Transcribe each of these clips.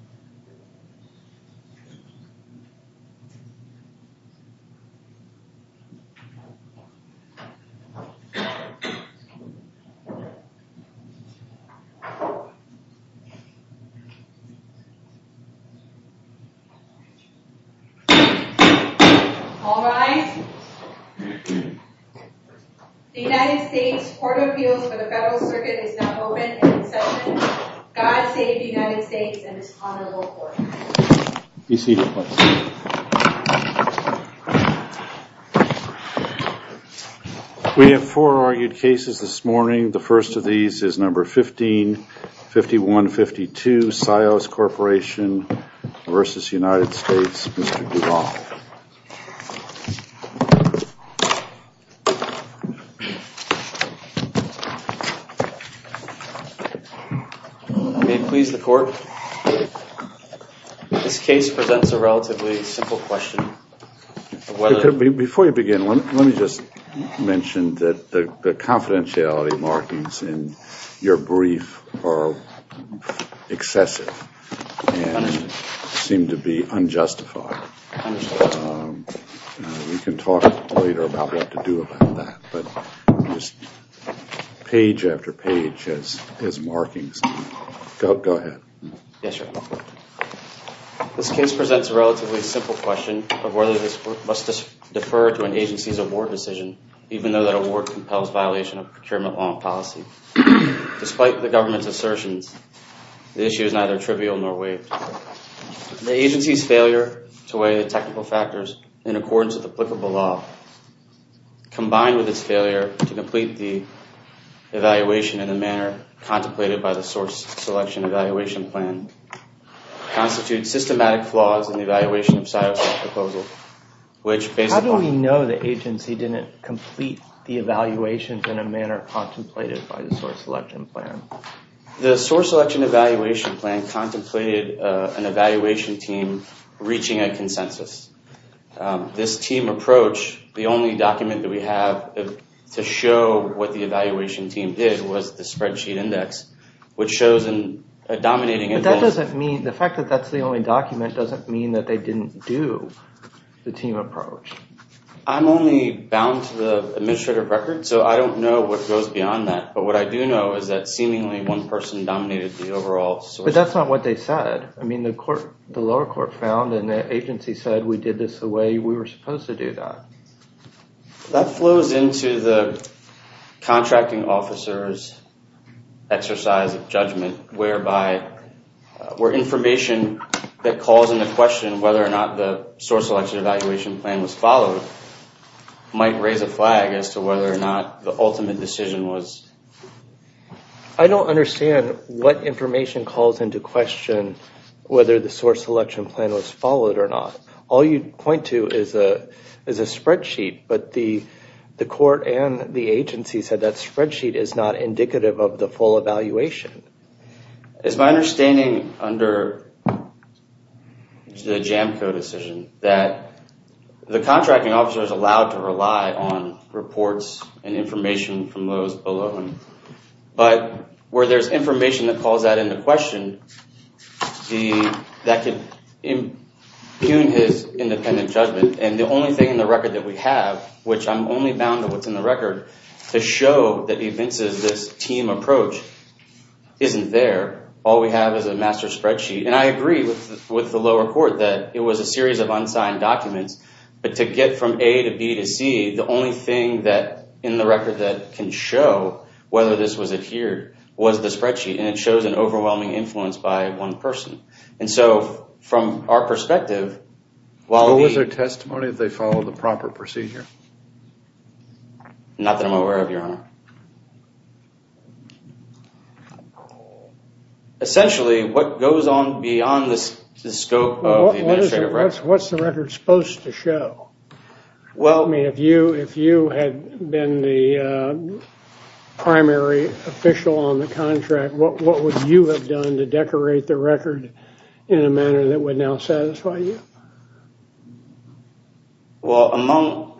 Yeah. Yeah. Yeah. Yeah. Yeah. Yeah. Yeah. Yeah. Yeah. Yeah. Yeah. Yeah. Yeah. Yeah. All right. The United States Court of Appeals for the Federal Circuit is now open in session. God save the United States and His Honorable Court. Be seated, please. We have four argued cases this morning. The first of these is number 15-5152, Sios Corporation v. United States, Mr. Duvall. May it please the court, this case presents a relatively simple question. Before you begin, let me just mention that the confidentiality markings in your brief are excessive and seem to be unjustified. I understand. We can talk later about what to do about that, but page after page is markings. Go ahead. Yes, Your Honor. This case presents a relatively simple question of whether this must defer to an agency's award decision, even though that award compels violation of procurement law and policy. Despite the government's assertions, the issue is neither trivial nor waived. The agency's failure to weigh the technical factors in accordance with applicable law, combined with its failure to complete the evaluation in a manner contemplated by the source selection evaluation plan, constitutes systematic flaws in the evaluation of Sios' proposal. How do we know the agency didn't complete the evaluations in a manner contemplated by the source selection plan? The source selection evaluation plan contemplated an evaluation team reaching a consensus. This team approach, the only document that we have to show what the evaluation team did was the spreadsheet index, which shows a dominating influence. But that doesn't mean, the fact that that's the only document doesn't mean that they didn't do the team approach. I'm only bound to the administrative record, so I don't know what goes beyond that. But what I do know is that seemingly one person dominated the overall. But that's not what they said. I mean, the lower court found and the agency said we did this the way we were supposed to do that. That flows into the contracting officer's exercise of judgment, where information that calls into question whether or not the source selection evaluation plan was followed, might raise a flag as to whether or not the ultimate decision was. I don't understand what information calls into question whether the source selection plan was followed or not. All you point to is a spreadsheet. But the court and the agency said that spreadsheet is not indicative of the full evaluation. It's my understanding under the Jamco decision that the contracting officer is allowed to rely on reports and information from those below him. But where there's information that calls that into question, that could impugn his independent judgment. And the only thing in the record that we have, which I'm only bound to what's in the record, the show that evinces this team approach isn't there. All we have is a master spreadsheet. And I agree with the lower court that it was a series of unsigned documents. But to get from A to B to C, the only thing in the record that can show whether this was adhered was the spreadsheet. And it shows an overwhelming influence by one person. And so from our perspective, while we... Not that I'm aware of, Your Honor. Essentially, what goes on beyond the scope of the administrative record... What's the record supposed to show? I mean, if you had been the primary official on the contract, what would you have done to decorate the record in a manner that would now satisfy you? Well, among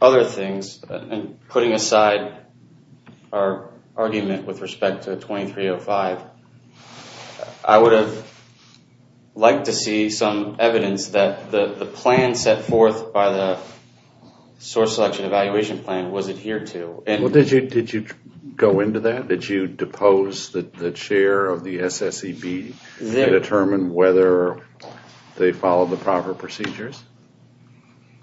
other things, putting aside our argument with respect to 2305, I would have liked to see some evidence that the plan set forth by the source selection evaluation plan was adhered to. Did you go into that? Did you depose the chair of the SSEB and determine whether they followed the proper procedures?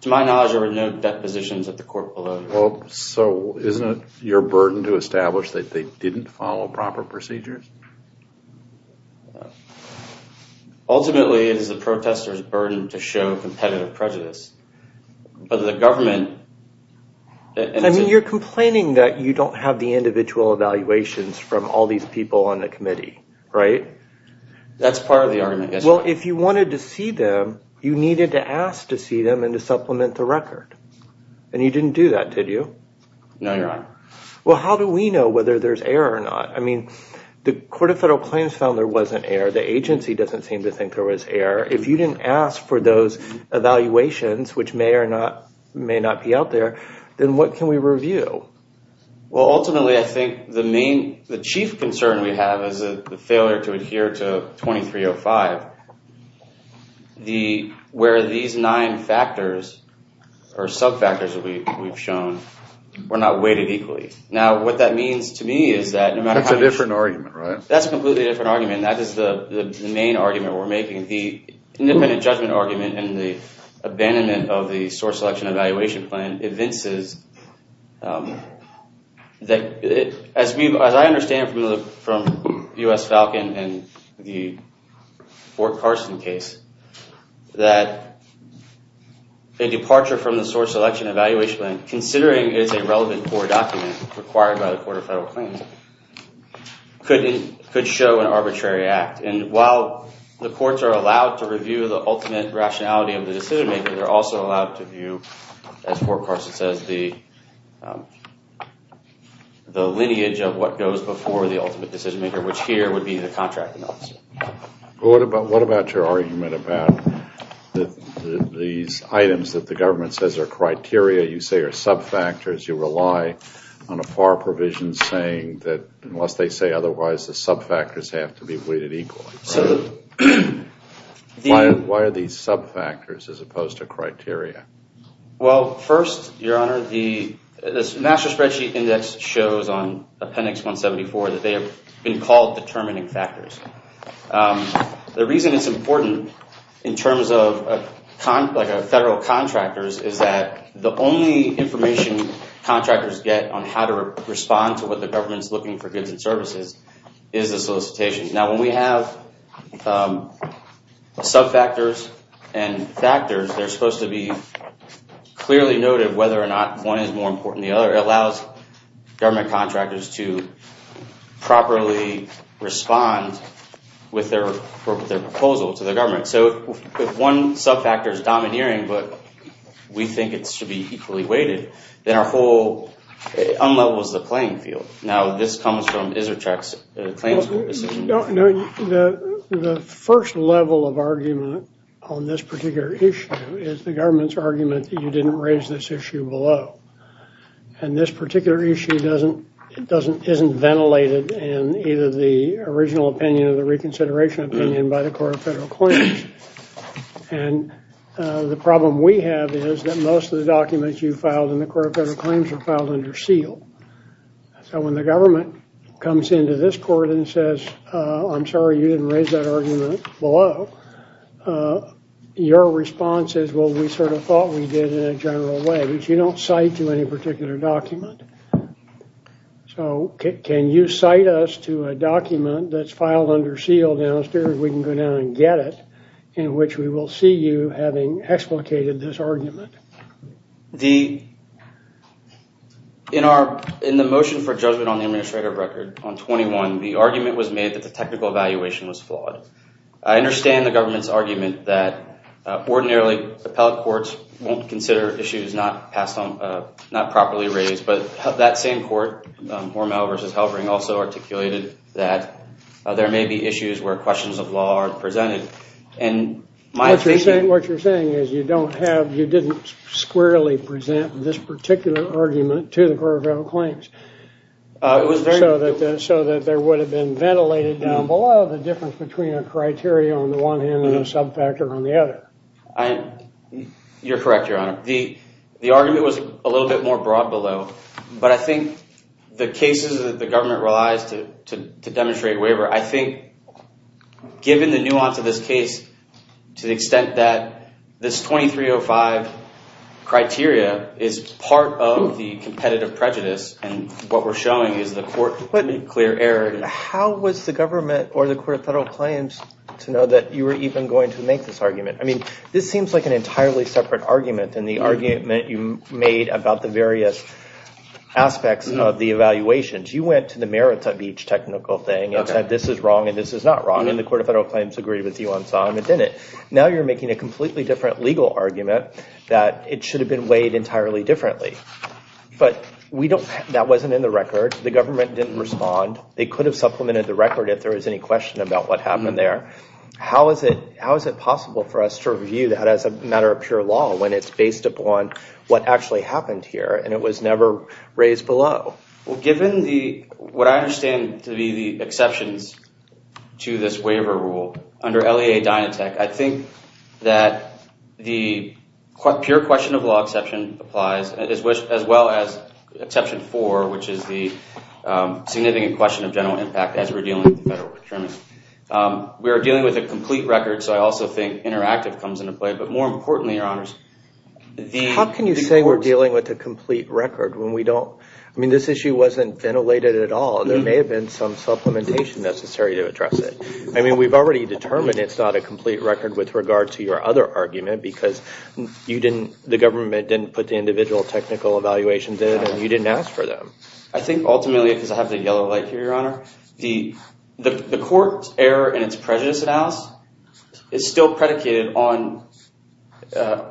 To my knowledge, there were no depositions at the court below. So isn't it your burden to establish that they didn't follow proper procedures? Ultimately, it is the protester's burden to show competitive prejudice. But the government... I mean, you're complaining that you don't have the individual evaluations from all these people on the committee, right? That's part of the argument. Well, if you wanted to see them, you needed to ask to see them and to supplement the record. And you didn't do that, did you? No, Your Honor. Well, how do we know whether there's error or not? I mean, the Court of Federal Claims found there wasn't error. The agency doesn't seem to think there was error. If you didn't ask for those evaluations, which may or may not be out there, then what can we review? Well, ultimately, I think the chief concern we have is the failure to adhere to 2305, where these nine factors or sub-factors that we've shown were not weighted equally. Now, what that means to me is that no matter how... That's a different argument, right? That's a completely different argument. That is the main argument we're making. The independent judgment argument and the abandonment of the source selection evaluation plan evinces that... As I understand from U.S. Falcon and the Fort Carson case, that a departure from the source selection evaluation plan, considering it's a relevant court document required by the Court of Federal Claims, could show an arbitrary act. And while the courts are allowed to review the ultimate rationality of the decision-maker, they're also allowed to view, as Fort Carson says, the lineage of what goes before the ultimate decision-maker, which here would be the contracting officer. What about your argument about these items that the government says are criteria, you say are sub-factors, you rely on a FAR provision saying that unless they say otherwise, the sub-factors have to be weighted equally? So... Why are these sub-factors as opposed to criteria? Well, first, Your Honor, the National Spreadsheet Index shows on Appendix 174 that they have been called determining factors. The reason it's important in terms of federal contractors is that the only information contractors get on how to respond to what the government's looking for goods and services is the solicitation. Now, when we have sub-factors and factors, they're supposed to be clearly noted whether or not one is more important than the other. It allows government contractors to properly respond with their proposal to the government. So if one sub-factor is domineering, but we think it should be equally weighted, then our whole—unlevels the playing field. Now, this comes from Izzertrack's claims court decision. The first level of argument on this particular issue is the government's argument that you didn't raise this issue below. And this particular issue doesn't—isn't ventilated in either the original opinion or the reconsideration opinion by the Court of Federal Claims. And the problem we have is that most of the documents you filed in the Court of Federal Claims are filed under seal. So when the government comes into this court and says, I'm sorry, you didn't raise that argument below, your response is, well, we sort of thought we did in a general way. But you don't cite to any particular document. So can you cite us to a document that's filed under seal downstairs? We can go down and get it, in which we will see you having explicated this argument. The—in our—in the motion for judgment on the administrative record on 21, the argument was made that the technical evaluation was flawed. I understand the government's argument that ordinarily appellate courts won't consider issues not passed on—not properly raised. But that same court, Hormel v. Halbring, also articulated that there may be issues where questions of law are presented. And my— What you're saying is you don't have—you didn't squarely present this particular argument to the Court of Federal Claims. It was very— So that there would have been ventilated down below the difference between a criteria on the one hand and a subfactor on the other. I—you're correct, Your Honor. The argument was a little bit more broad below. But I think the cases that the government relies to demonstrate waiver, I think given the nuance of this case to the extent that this 2305 criteria is part of the competitive prejudice, and what we're showing is the court made clear error— How was the government or the Court of Federal Claims to know that you were even going to make this argument? I mean, this seems like an entirely separate argument than the argument you made about the various aspects of the evaluations. You went to the merits of each technical thing and said this is wrong and this is not wrong. And the Court of Federal Claims agreed with you on some and didn't. Now you're making a completely different legal argument that it should have been weighed entirely differently. But we don't—that wasn't in the record. The government didn't respond. They could have supplemented the record if there was any question about what happened there. How is it—how is it possible for us to review that as a matter of pure law when it's based upon what actually happened here and it was never raised below? Well, given the—what I understand to be the exceptions to this waiver rule under LEA Dynatech, I think that the pure question of law exception applies, as well as Exception 4, which is the significant question of general impact as we're dealing with the federal procurement. We are dealing with a complete record, so I also think interactive comes into play. But more importantly, Your Honors, the— How can you say we're dealing with a complete record when we don't—I mean, this issue wasn't ventilated at all. There may have been some supplementation necessary to address it. I mean, we've already determined it's not a complete record with regard to your other argument because you didn't—the government didn't put the individual technical evaluations in and you didn't ask for them. I think ultimately, because I have the yellow light here, Your Honor, the court's error in its prejudice analysis is still predicated on—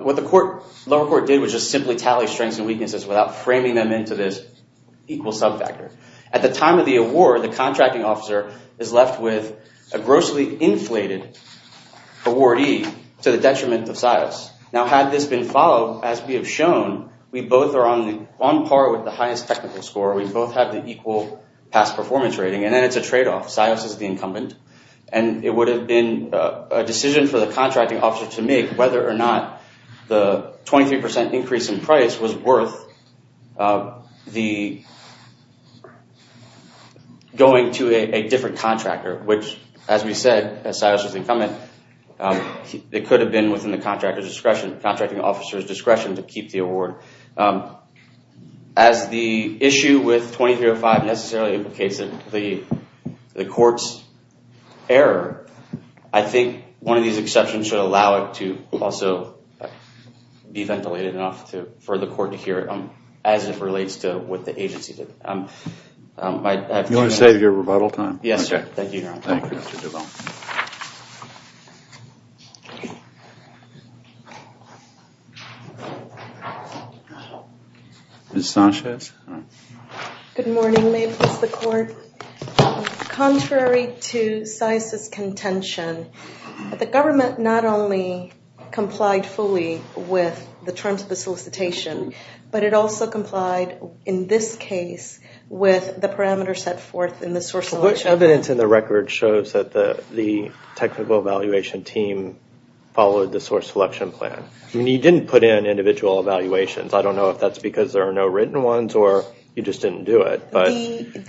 what the lower court did was just simply tally strengths and weaknesses without framing them into this equal subfactor. At the time of the award, the contracting officer is left with a grossly inflated awardee to the detriment of status. Now, had this been followed, as we have shown, we both are on par with the highest technical score. We both have the equal past performance rating. And then it's a tradeoff. Sios is the incumbent. And it would have been a decision for the contracting officer to make whether or not the 23 percent increase in price was worth the— going to a different contractor, which, as we said, as Sios was incumbent, it could have been within the contractor's discretion—contracting officer's discretion to keep the award. As the issue with 2305 necessarily implicates the court's error, I think one of these exceptions should allow it to also be ventilated enough for the court to hear it as it relates to what the agency did. You want to save your rebuttal time? Yes, sir. Thank you, Your Honor. Thank you, Mr. Duval. Ms. Sanchez? Good morning. May it please the Court? Contrary to Sios's contention, the government not only complied fully with the terms of the solicitation, but it also complied in this case with the parameters set forth in the source selection— The evidence in the record shows that the technical evaluation team followed the source selection plan. I mean, you didn't put in individual evaluations. I don't know if that's because there are no written ones or you just didn't do it, but—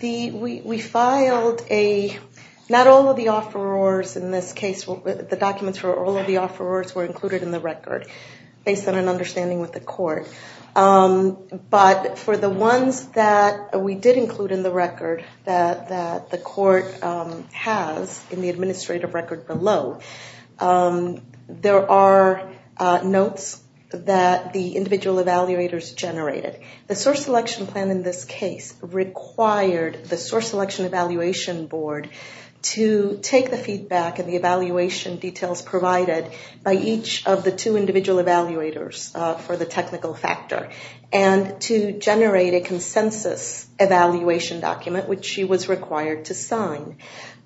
We filed a—not all of the offerors in this case—the documents for all of the offerors were included in the record, based on an understanding with the court. But for the ones that we did include in the record that the court has in the administrative record below, there are notes that the individual evaluators generated. The source selection plan in this case required the source selection evaluation board to take the feedback and the evaluation details provided by each of the two individual evaluators for the technical factor and to generate a consensus evaluation document, which she was required to sign.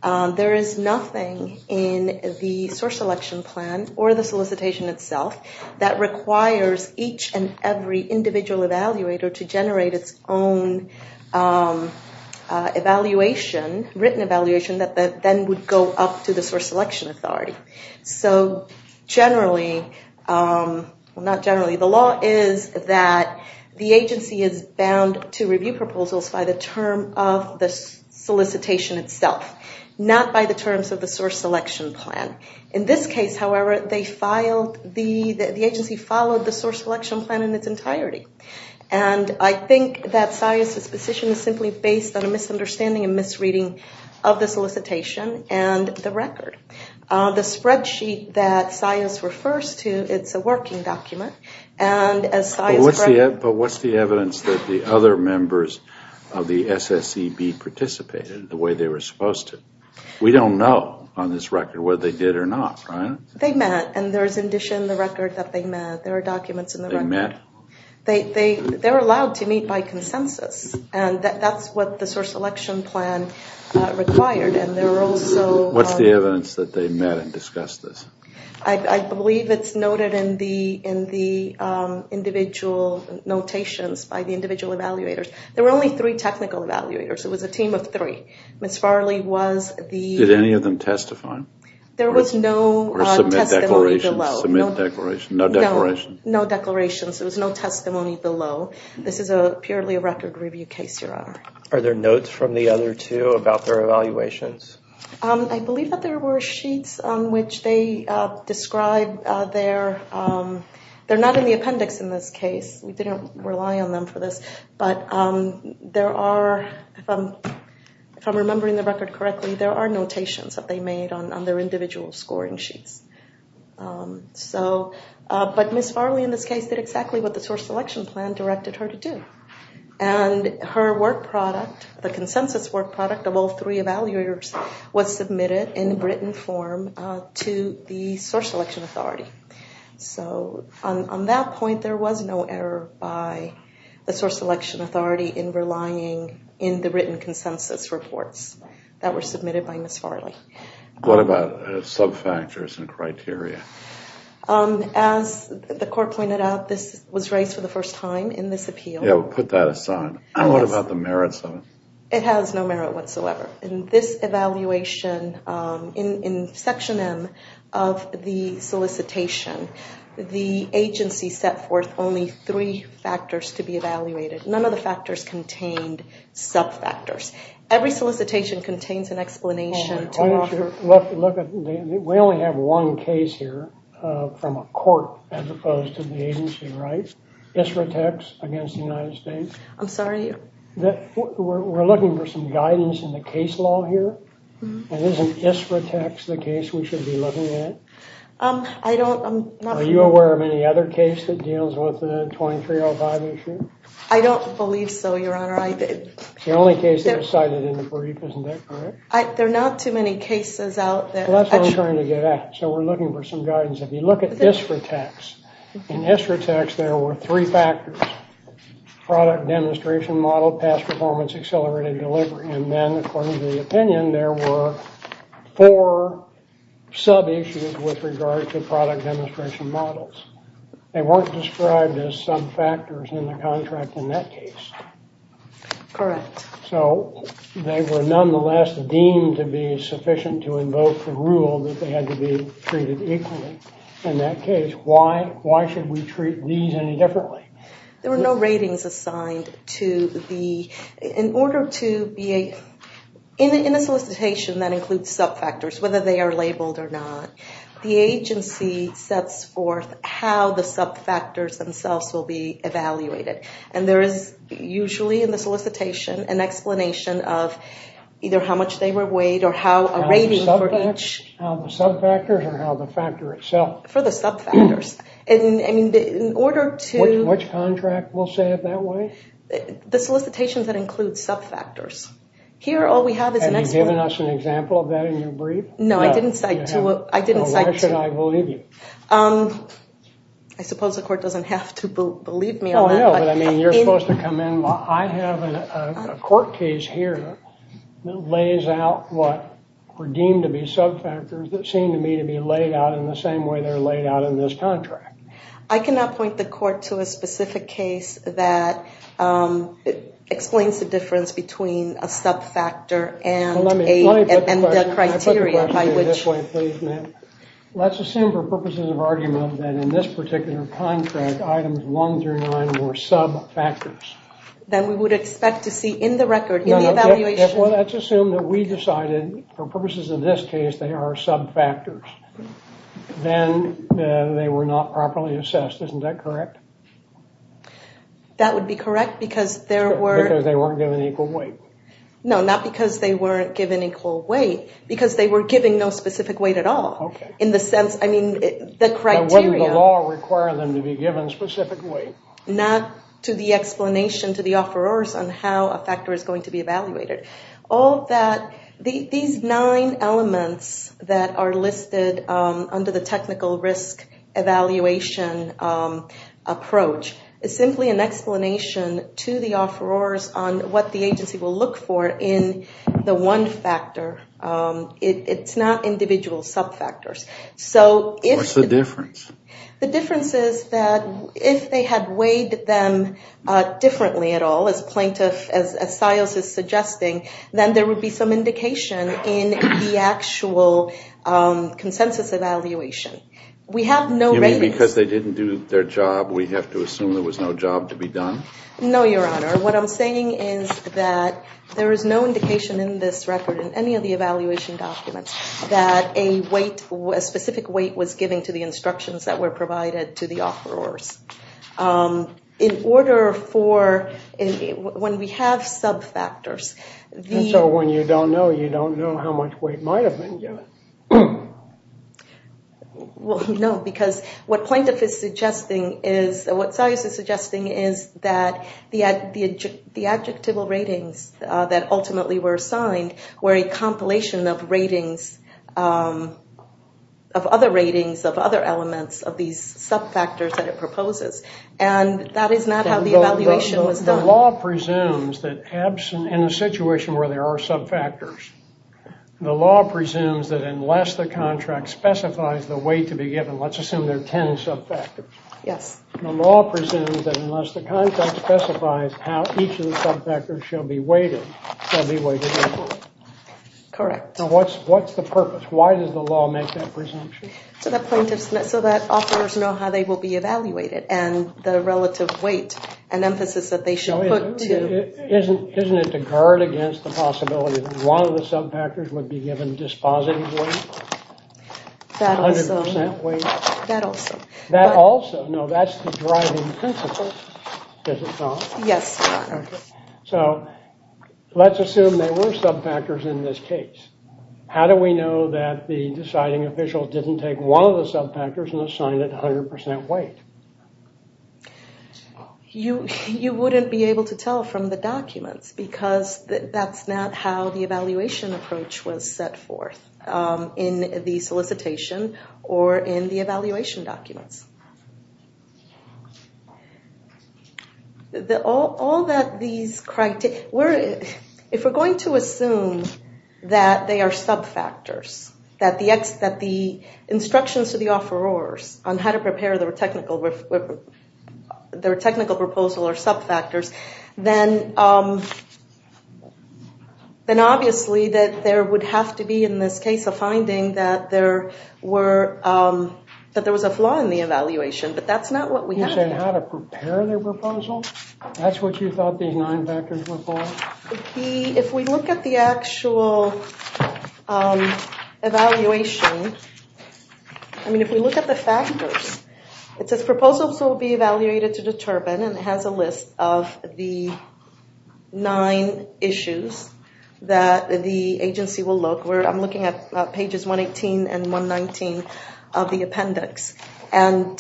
There is nothing in the source selection plan or the solicitation itself that requires each and every individual evaluator to generate its own written evaluation that then would go up to the source selection authority. So generally—well, not generally. The law is that the agency is bound to review proposals by the term of the solicitation itself, not by the terms of the source selection plan. In this case, however, they filed—the agency followed the source selection plan in its entirety. And I think that SIAS's position is simply based on a misunderstanding and misreading of the solicitation and the record. The spreadsheet that SIAS refers to, it's a working document, and as SIAS— But what's the evidence that the other members of the SSEB participated the way they were supposed to? We don't know on this record whether they did or not, right? They met, and there's in addition the record that they met. There are documents in the record. They met? They're allowed to meet by consensus, and that's what the source selection plan required, and there are also— What evidence that they met and discussed this? I believe it's noted in the individual notations by the individual evaluators. There were only three technical evaluators. It was a team of three. Ms. Farley was the— Did any of them testify? There was no testimony below. Or submit declarations. Submit declarations. No declarations. No declarations. There was no testimony below. This is purely a record review case, Your Honor. Are there notes from the other two about their evaluations? I believe that there were sheets on which they described their— They're not in the appendix in this case. We didn't rely on them for this, but there are— If I'm remembering the record correctly, there are notations that they made on their individual scoring sheets. But Ms. Farley, in this case, did exactly what the source selection plan directed her to do. And her work product, the consensus work product of all three evaluators, was submitted in written form to the source selection authority. So on that point, there was no error by the source selection authority in relying in the written consensus reports that were submitted by Ms. Farley. What about sub-factors and criteria? As the court pointed out, this was raised for the first time in this appeal. Yeah, we'll put that aside. What about the merits of it? It has no merit whatsoever. In this evaluation, in Section M of the solicitation, the agency set forth only three factors to be evaluated. None of the factors contained sub-factors. Every solicitation contains an explanation to offer. We only have one case here from a court as opposed to the agency, right? Isra Tex against the United States. I'm sorry? We're looking for some guidance in the case law here. Isn't Isra Tex the case we should be looking at? I don't— Are you aware of any other case that deals with the 2305 issue? I don't believe so, Your Honor. It's the only case that was cited in the brief, isn't that correct? There are not too many cases out that— Well, that's what I'm trying to get at. So we're looking for some guidance. If you look at Isra Tex, in Isra Tex there were three factors—product demonstration model, past performance, accelerated delivery. And then, according to the opinion, there were four sub-issues with regard to product demonstration models. They weren't described as sub-factors in the contract in that case. Correct. So they were nonetheless deemed to be sufficient to invoke the rule that they had to be treated equally in that case. Why should we treat these any differently? There were no ratings assigned to the— In order to be a—in a solicitation that includes sub-factors, whether they are labeled or not, the agency sets forth how the sub-factors themselves will be evaluated. And there is usually, in the solicitation, an explanation of either how much they were weighed or how a rating for each— How the sub-factors or how the factor itself? For the sub-factors. In order to— Which contract will say it that way? The solicitation that includes sub-factors. Here, all we have is an explanation— Have you given us an example of that in your brief? No, I didn't cite two— Well, why should I believe you? I suppose the court doesn't have to believe me on that. No, but I mean, you're supposed to come in— I have a court case here that lays out what were deemed to be sub-factors that seem to me to be laid out in the same way they're laid out in this contract. I cannot point the court to a specific case that explains the difference between a sub-factor and a— Well, let me put the question— And the criteria by which— Let me put the question to you this way, please, ma'am. Let's assume for purposes of argument that in this particular contract, items one through nine were sub-factors. Then we would expect to see in the record, in the evaluation— Well, let's assume that we decided, for purposes of this case, they are sub-factors. Then they were not properly assessed. Isn't that correct? That would be correct because there were— Because they weren't given equal weight. No, not because they weren't given equal weight. Because they were given no specific weight at all. Okay. In the sense, I mean, the criteria— Now, wouldn't the law require them to be given specific weight? Not to the explanation to the offerors on how a factor is going to be evaluated. All that— These nine elements that are listed under the technical risk evaluation approach is simply an explanation to the offerors on what the agency will look for in the one factor. It's not individual sub-factors. So if— What's the difference? The difference is that if they had weighed them differently at all, as Siles is suggesting, then there would be some indication in the actual consensus evaluation. We have no— You mean because they didn't do their job, we have to assume there was no job to be done? No, Your Honor. What I'm saying is that there is no indication in this record, in any of the evaluation documents, that a specific weight was given to the instructions that were provided to the offerors. In order for— When we have sub-factors, the— And so when you don't know, you don't know how much weight might have been given. Well, no, because what plaintiff is suggesting is— What Siles is suggesting is that the adjectival ratings that ultimately were assigned were a compilation of ratings, of other ratings, of other elements of these sub-factors that it proposes. And that is not how the evaluation was done. The law presumes that in a situation where there are sub-factors, the law presumes that unless the contract specifies the weight to be given, let's assume there are 10 sub-factors. Yes. The law presumes that unless the contract specifies how each of the sub-factors shall be weighted, they'll be weighted equally. Correct. Now, what's the purpose? Why does the law make that presumption? So that plaintiffs—so that offerors know how they will be evaluated and the relative weight and emphasis that they should put to— Isn't it to guard against the possibility that one of the sub-factors would be given dispositive weight? That also. 100% weight? That also. That also. No, that's the driving principle, is it not? Yes, Your Honor. So, let's assume there were sub-factors in this case. How do we know that the deciding official didn't take one of the sub-factors and assign it 100% weight? You wouldn't be able to tell from the documents because that's not how the evaluation approach was set forth in the solicitation or in the evaluation documents. If we're going to assume that they are sub-factors, that the instructions to the offerors on how to prepare their technical proposal are sub-factors, then obviously there would have to be, in this case, a finding that there was a flaw in the evaluation. But that's not what we have here. You said how to prepare their proposal? That's what you thought these nine factors were for? If we look at the actual evaluation, I mean, if we look at the factors, it says proposals will be evaluated to determine, and it has a list of the nine issues that the agency will look. I'm looking at pages 118 and 119 of the appendix. And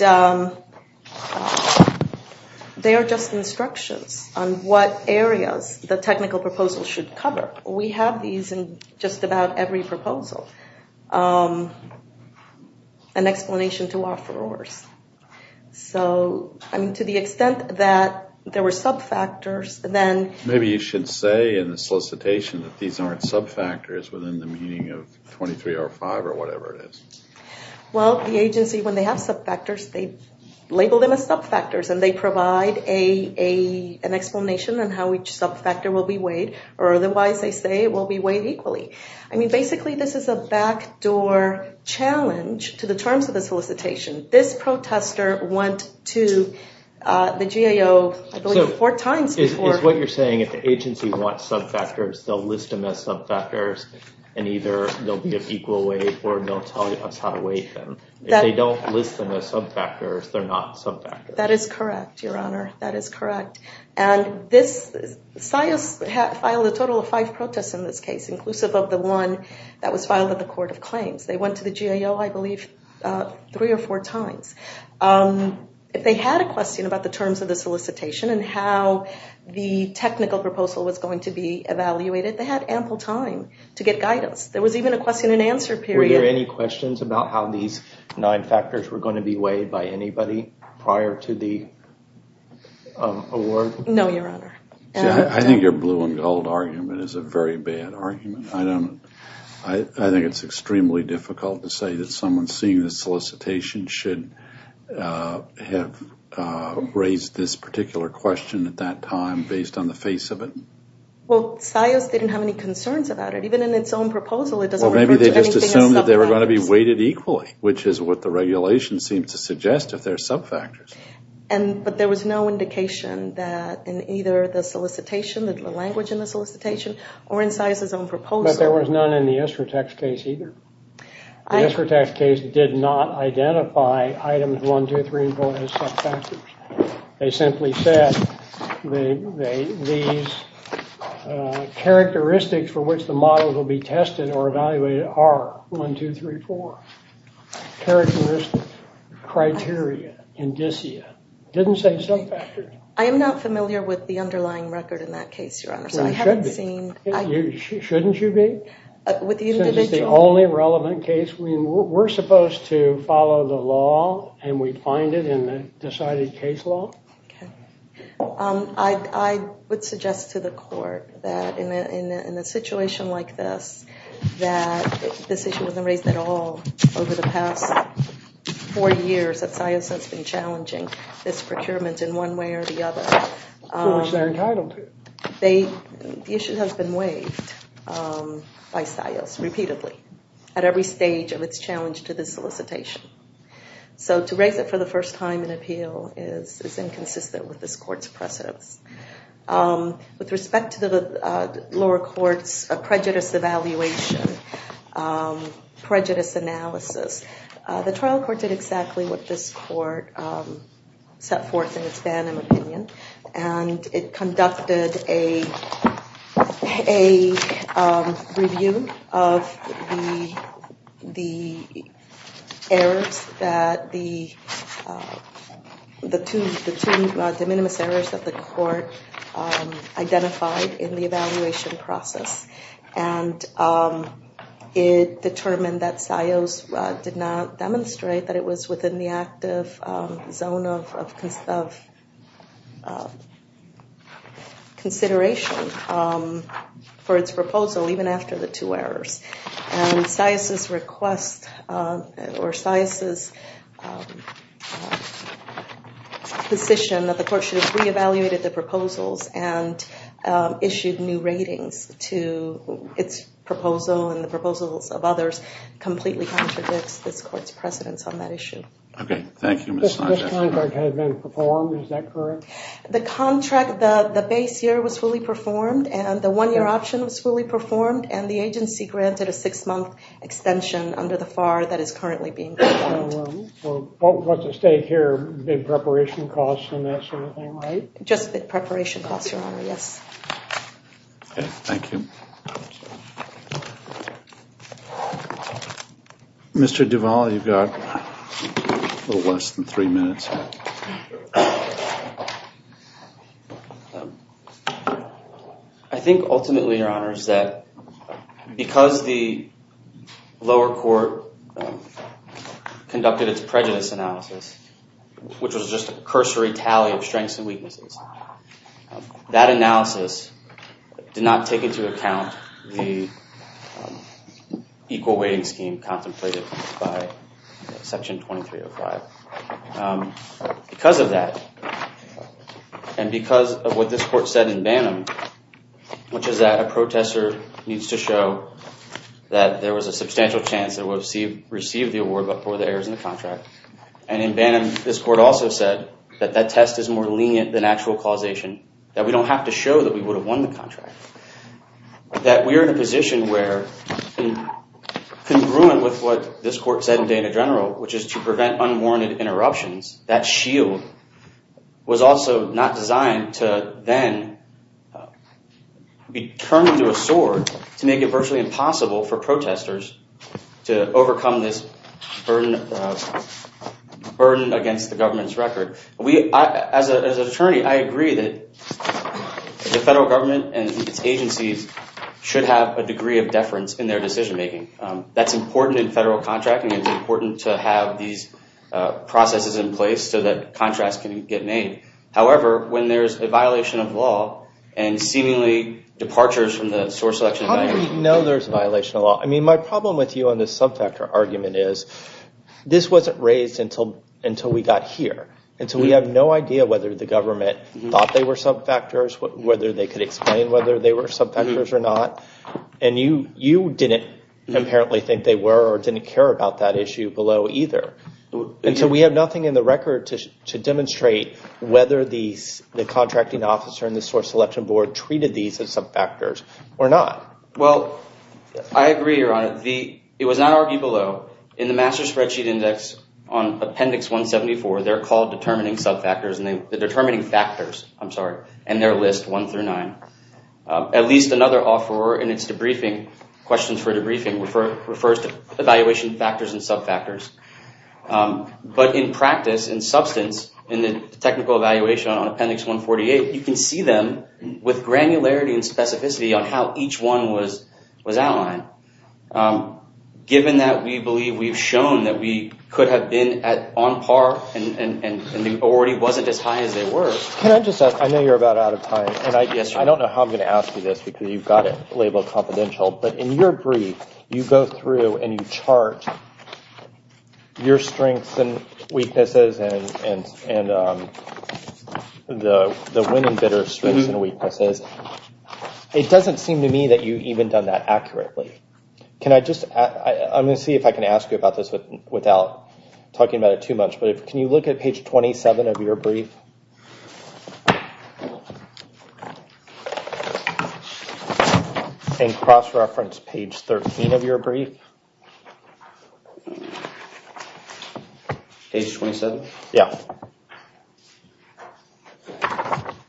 they are just instructions on what areas the technical proposal should cover. We have these in just about every proposal, an explanation to offerors. So, I mean, to the extent that there were sub-factors, then... Maybe you should say in the solicitation that these aren't sub-factors within the meaning of 23.05 or whatever it is. Well, the agency, when they have sub-factors, they label them as sub-factors, and they provide an explanation on how each sub-factor will be weighed, or otherwise they say it will be weighed equally. I mean, basically, this is a back-door challenge to the terms of the solicitation. This protester went to the GAO, I believe, four times before. Is what you're saying, if the agency wants sub-factors, they'll list them as sub-factors, and either they'll be of equal weight or they'll tell us how to weight them. If they don't list them as sub-factors, they're not sub-factors. That is correct, Your Honor. That is correct. And this, SIOS filed a total of five protests in this case, inclusive of the one that was filed at the Court of Claims. They went to the GAO, I believe, three or four times. If they had a question about the terms of the solicitation and how the technical proposal was going to be evaluated, they had ample time to get guidance. There was even a question and answer period. Were there any questions about how these nine factors were going to be weighed by anybody prior to the award? No, Your Honor. I think your blue and gold argument is a very bad argument. I think it's extremely difficult to say that someone seeing the solicitation should have raised this particular question at that time based on the face of it. Well, SIOS didn't have any concerns about it. Even in its own proposal, it doesn't refer to anything as sub-factors. Well, maybe they just assumed that they were going to be weighted equally, which is what the regulation seems to suggest, if they're sub-factors. But there was no indication that in either the solicitation, the language in the solicitation, or in SIOS' own proposal. But there was none in the Esratax case either. The Esratax case did not identify items 1, 2, 3, and 4 as sub-factors. They simply said these characteristics for which the models will be tested or evaluated are 1, 2, 3, 4. Characteristic criteria indicia. Didn't say sub-factors. I am not familiar with the underlying record in that case, Your Honor. Well, you should be. So I haven't seen. Shouldn't you be? With the individual? Since it's the only relevant case. We're supposed to follow the law, and we find it in the decided case law. I would suggest to the court that in a situation like this, that this issue wasn't raised at all over the past four years that SIOS has been challenging this procurement in one way or the other. Which they're entitled to. The issue has been waived by SIOS repeatedly at every stage of its challenge to this solicitation. So to raise it for the first time in appeal is inconsistent with this court's precedents. With respect to the lower court's prejudice evaluation, prejudice analysis, the trial court did exactly what this court set forth in its banning opinion. And it conducted a review of the errors, the two de minimis errors that the court identified in the evaluation process. And it determined that SIOS did not demonstrate that it was within the active zone of consideration for its proposal, even after the two errors. And SIOS's request, or SIOS's position, that the court should have re-evaluated the proposals and issued new ratings to its proposal and the proposals of others completely contradicts this court's precedents on that issue. Okay, thank you. This contract has been performed, is that correct? The contract, the base year was fully performed and the one-year option was fully performed and the agency granted a six-month extension under the FAR that is currently being performed. What's at stake here? Preparation costs and that sort of thing, right? Just preparation costs, Your Honor, yes. Okay, thank you. Mr. Duvall, you've got a little less than three minutes. I think ultimately, Your Honor, is that because the lower court conducted its prejudice analysis, which was just a cursory tally of strengths and weaknesses, that analysis did not take into account the equal weighting scheme contemplated by Section 2305. Because of that, and because of what this court said in Banham, which is that a protester needs to show that there was a substantial chance that it would have received the award but for the errors in the contract. And in Banham, this court also said that that test is more lenient than actual causation, that we don't have to show that we would have won the contract. That we are in a position where, congruent with what this court said in Dana General, which is to prevent unwarranted interruptions, that shield was also not designed to then be turned into a sword to make it virtually impossible for protesters to overcome this burden against the government's record. As an attorney, I agree that the federal government and its agencies should have a degree of deference in their decision-making. That's important in federal contracting. It's important to have these processes in place so that contrasts can get made. However, when there's a violation of law and seemingly departures from the source selection... How do we know there's a violation of law? My problem with you on this subfactor argument is this wasn't raised until we got here. Until we have no idea whether the government thought they were subfactors, whether they could explain whether they were subfactors or not. And you didn't apparently think they were or didn't care about that issue below either. And so we have nothing in the record to demonstrate whether the contracting officer and the source selection board Well, I agree, Your Honor. It was not argued below. In the Master Spreadsheet Index on Appendix 174, they're called determining subfactors. The determining factors, I'm sorry, and their list, one through nine. At least another offeror in its debriefing, questions for debriefing, refers to evaluation factors and subfactors. But in practice, in substance, in the technical evaluation on Appendix 148, you can see them with granularity and specificity on how each one was outlined. Given that we believe we've shown that we could have been on par and they already wasn't as high as they were. Can I just ask? I know you're about out of time. I don't know how I'm going to ask you this because you've got it labeled confidential. But in your brief, you go through and you chart your strengths and weaknesses and the winning, bitter strengths and weaknesses. It doesn't seem to me that you've even done that accurately. I'm going to see if I can ask you about this without talking about it too much. Can you look at page 27 of your brief? And cross-reference page 13 of your brief. Page 27? Yeah.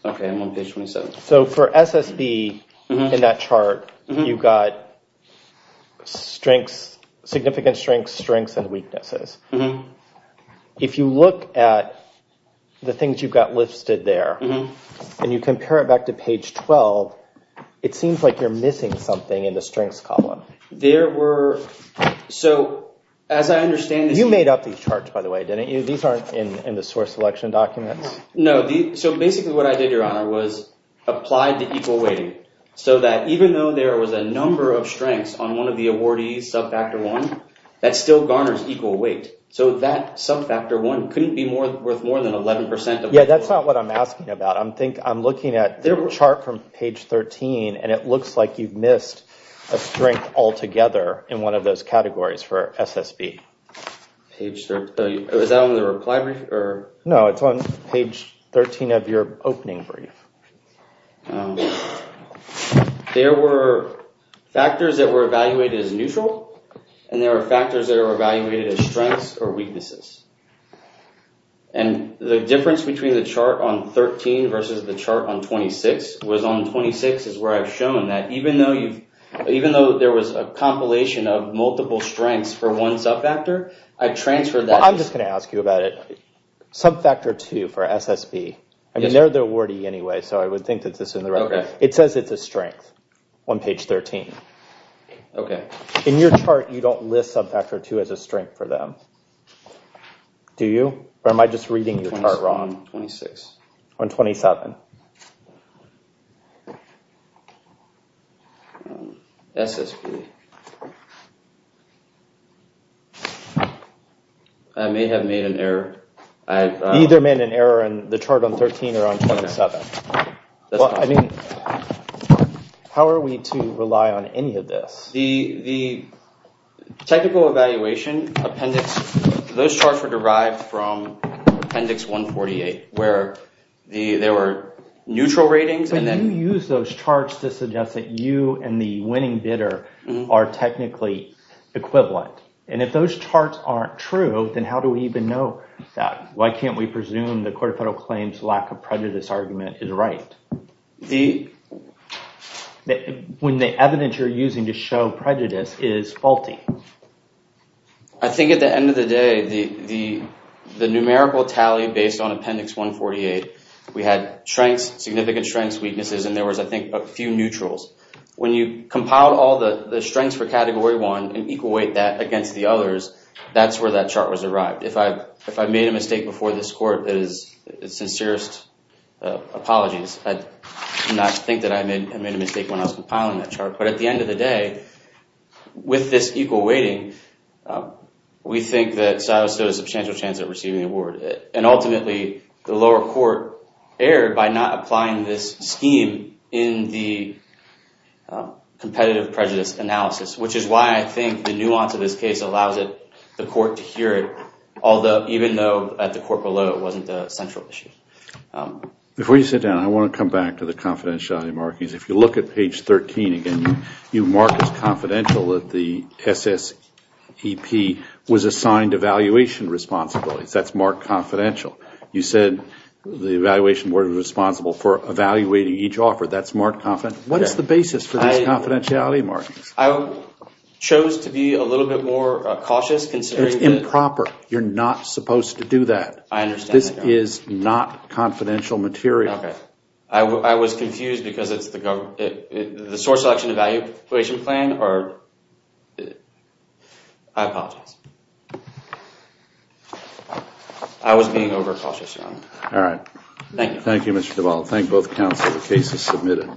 Okay, I'm on page 27. So for SSB in that chart, you've got strengths, significant strengths, strengths and weaknesses. If you look at the things you've got listed there and you compare it back to page 12, it seems like you're missing something in the strengths column. There were... So as I understand it... You made up these charts, by the way, didn't you? These aren't in the source selection documents. No. So basically what I did, Your Honor, was apply the equal weighting so that even though there was a number of strengths on one of the awardees, sub-factor one, that still garners equal weight. So that sub-factor one couldn't be worth more than 11% of... Yeah, that's not what I'm asking about. I'm looking at the chart from page 13 and it looks like you've missed a strength altogether in one of those categories for SSB. Was that on the reply brief? No, it's on page 13 of your opening brief. There were factors that were evaluated as neutral and there were factors that were evaluated as strengths or weaknesses. And the difference between the chart on 13 versus the chart on 26, was on 26 is where I've shown that even though there was a compilation of multiple strengths for one sub-factor, I transferred that... Well, I'm just going to ask you about it. Sub-factor two for SSB. I mean, they're the awardee anyway, so I would think that this is in the record. Okay. It says it's a strength on page 13. Okay. In your chart, you don't list sub-factor two as a strength for them. Do you? Or am I just reading your chart wrong? 26. On 27. SSB. I may have made an error. You either made an error in the chart on 13 or on 27. Well, I mean, how are we to rely on any of this? The technical evaluation appendix, those charts were derived from appendix 148, where there were neutral ratings and then... But you used those charts to suggest that you and the winning bidder are technically equivalent. And if those charts aren't true, then how do we even know that? Why can't we presume the Court of Federal Claims lack of prejudice argument is right? When the evidence you're using to show prejudice is faulty. I think at the end of the day, the numerical tally based on appendix 148, we had strengths, significant strengths, weaknesses, and there was, I think, a few neutrals. When you compiled all the strengths for Category 1 and equate that against the others, that's where that chart was arrived. If I made a mistake before this court, it is sincerest apologies. I do not think that I made a mistake when I was compiling that chart. But at the end of the day, with this equal weighting, we think that Silas Stowe had a substantial chance of receiving the award. And ultimately, the lower court erred by not applying this scheme in the competitive prejudice analysis, which is why I think the nuance of this case allows the court to hear it, although even though at the court below it wasn't a central issue. Before you sit down, I want to come back to the confidentiality markings. If you look at page 13 again, you mark as confidential that the SSEP was assigned evaluation responsibilities. That's marked confidential. You said the evaluation board was responsible for evaluating each offer. That's marked confidential. What is the basis for these confidentiality markings? I chose to be a little bit more cautious. It's improper. You're not supposed to do that. I understand. This is not confidential material. Okay. I was confused because it's the source selection evaluation plan or... I apologize. I was being overcautious. All right. Thank you. Thank you, Mr. Duvall. Thank both counsel. The case is submitted.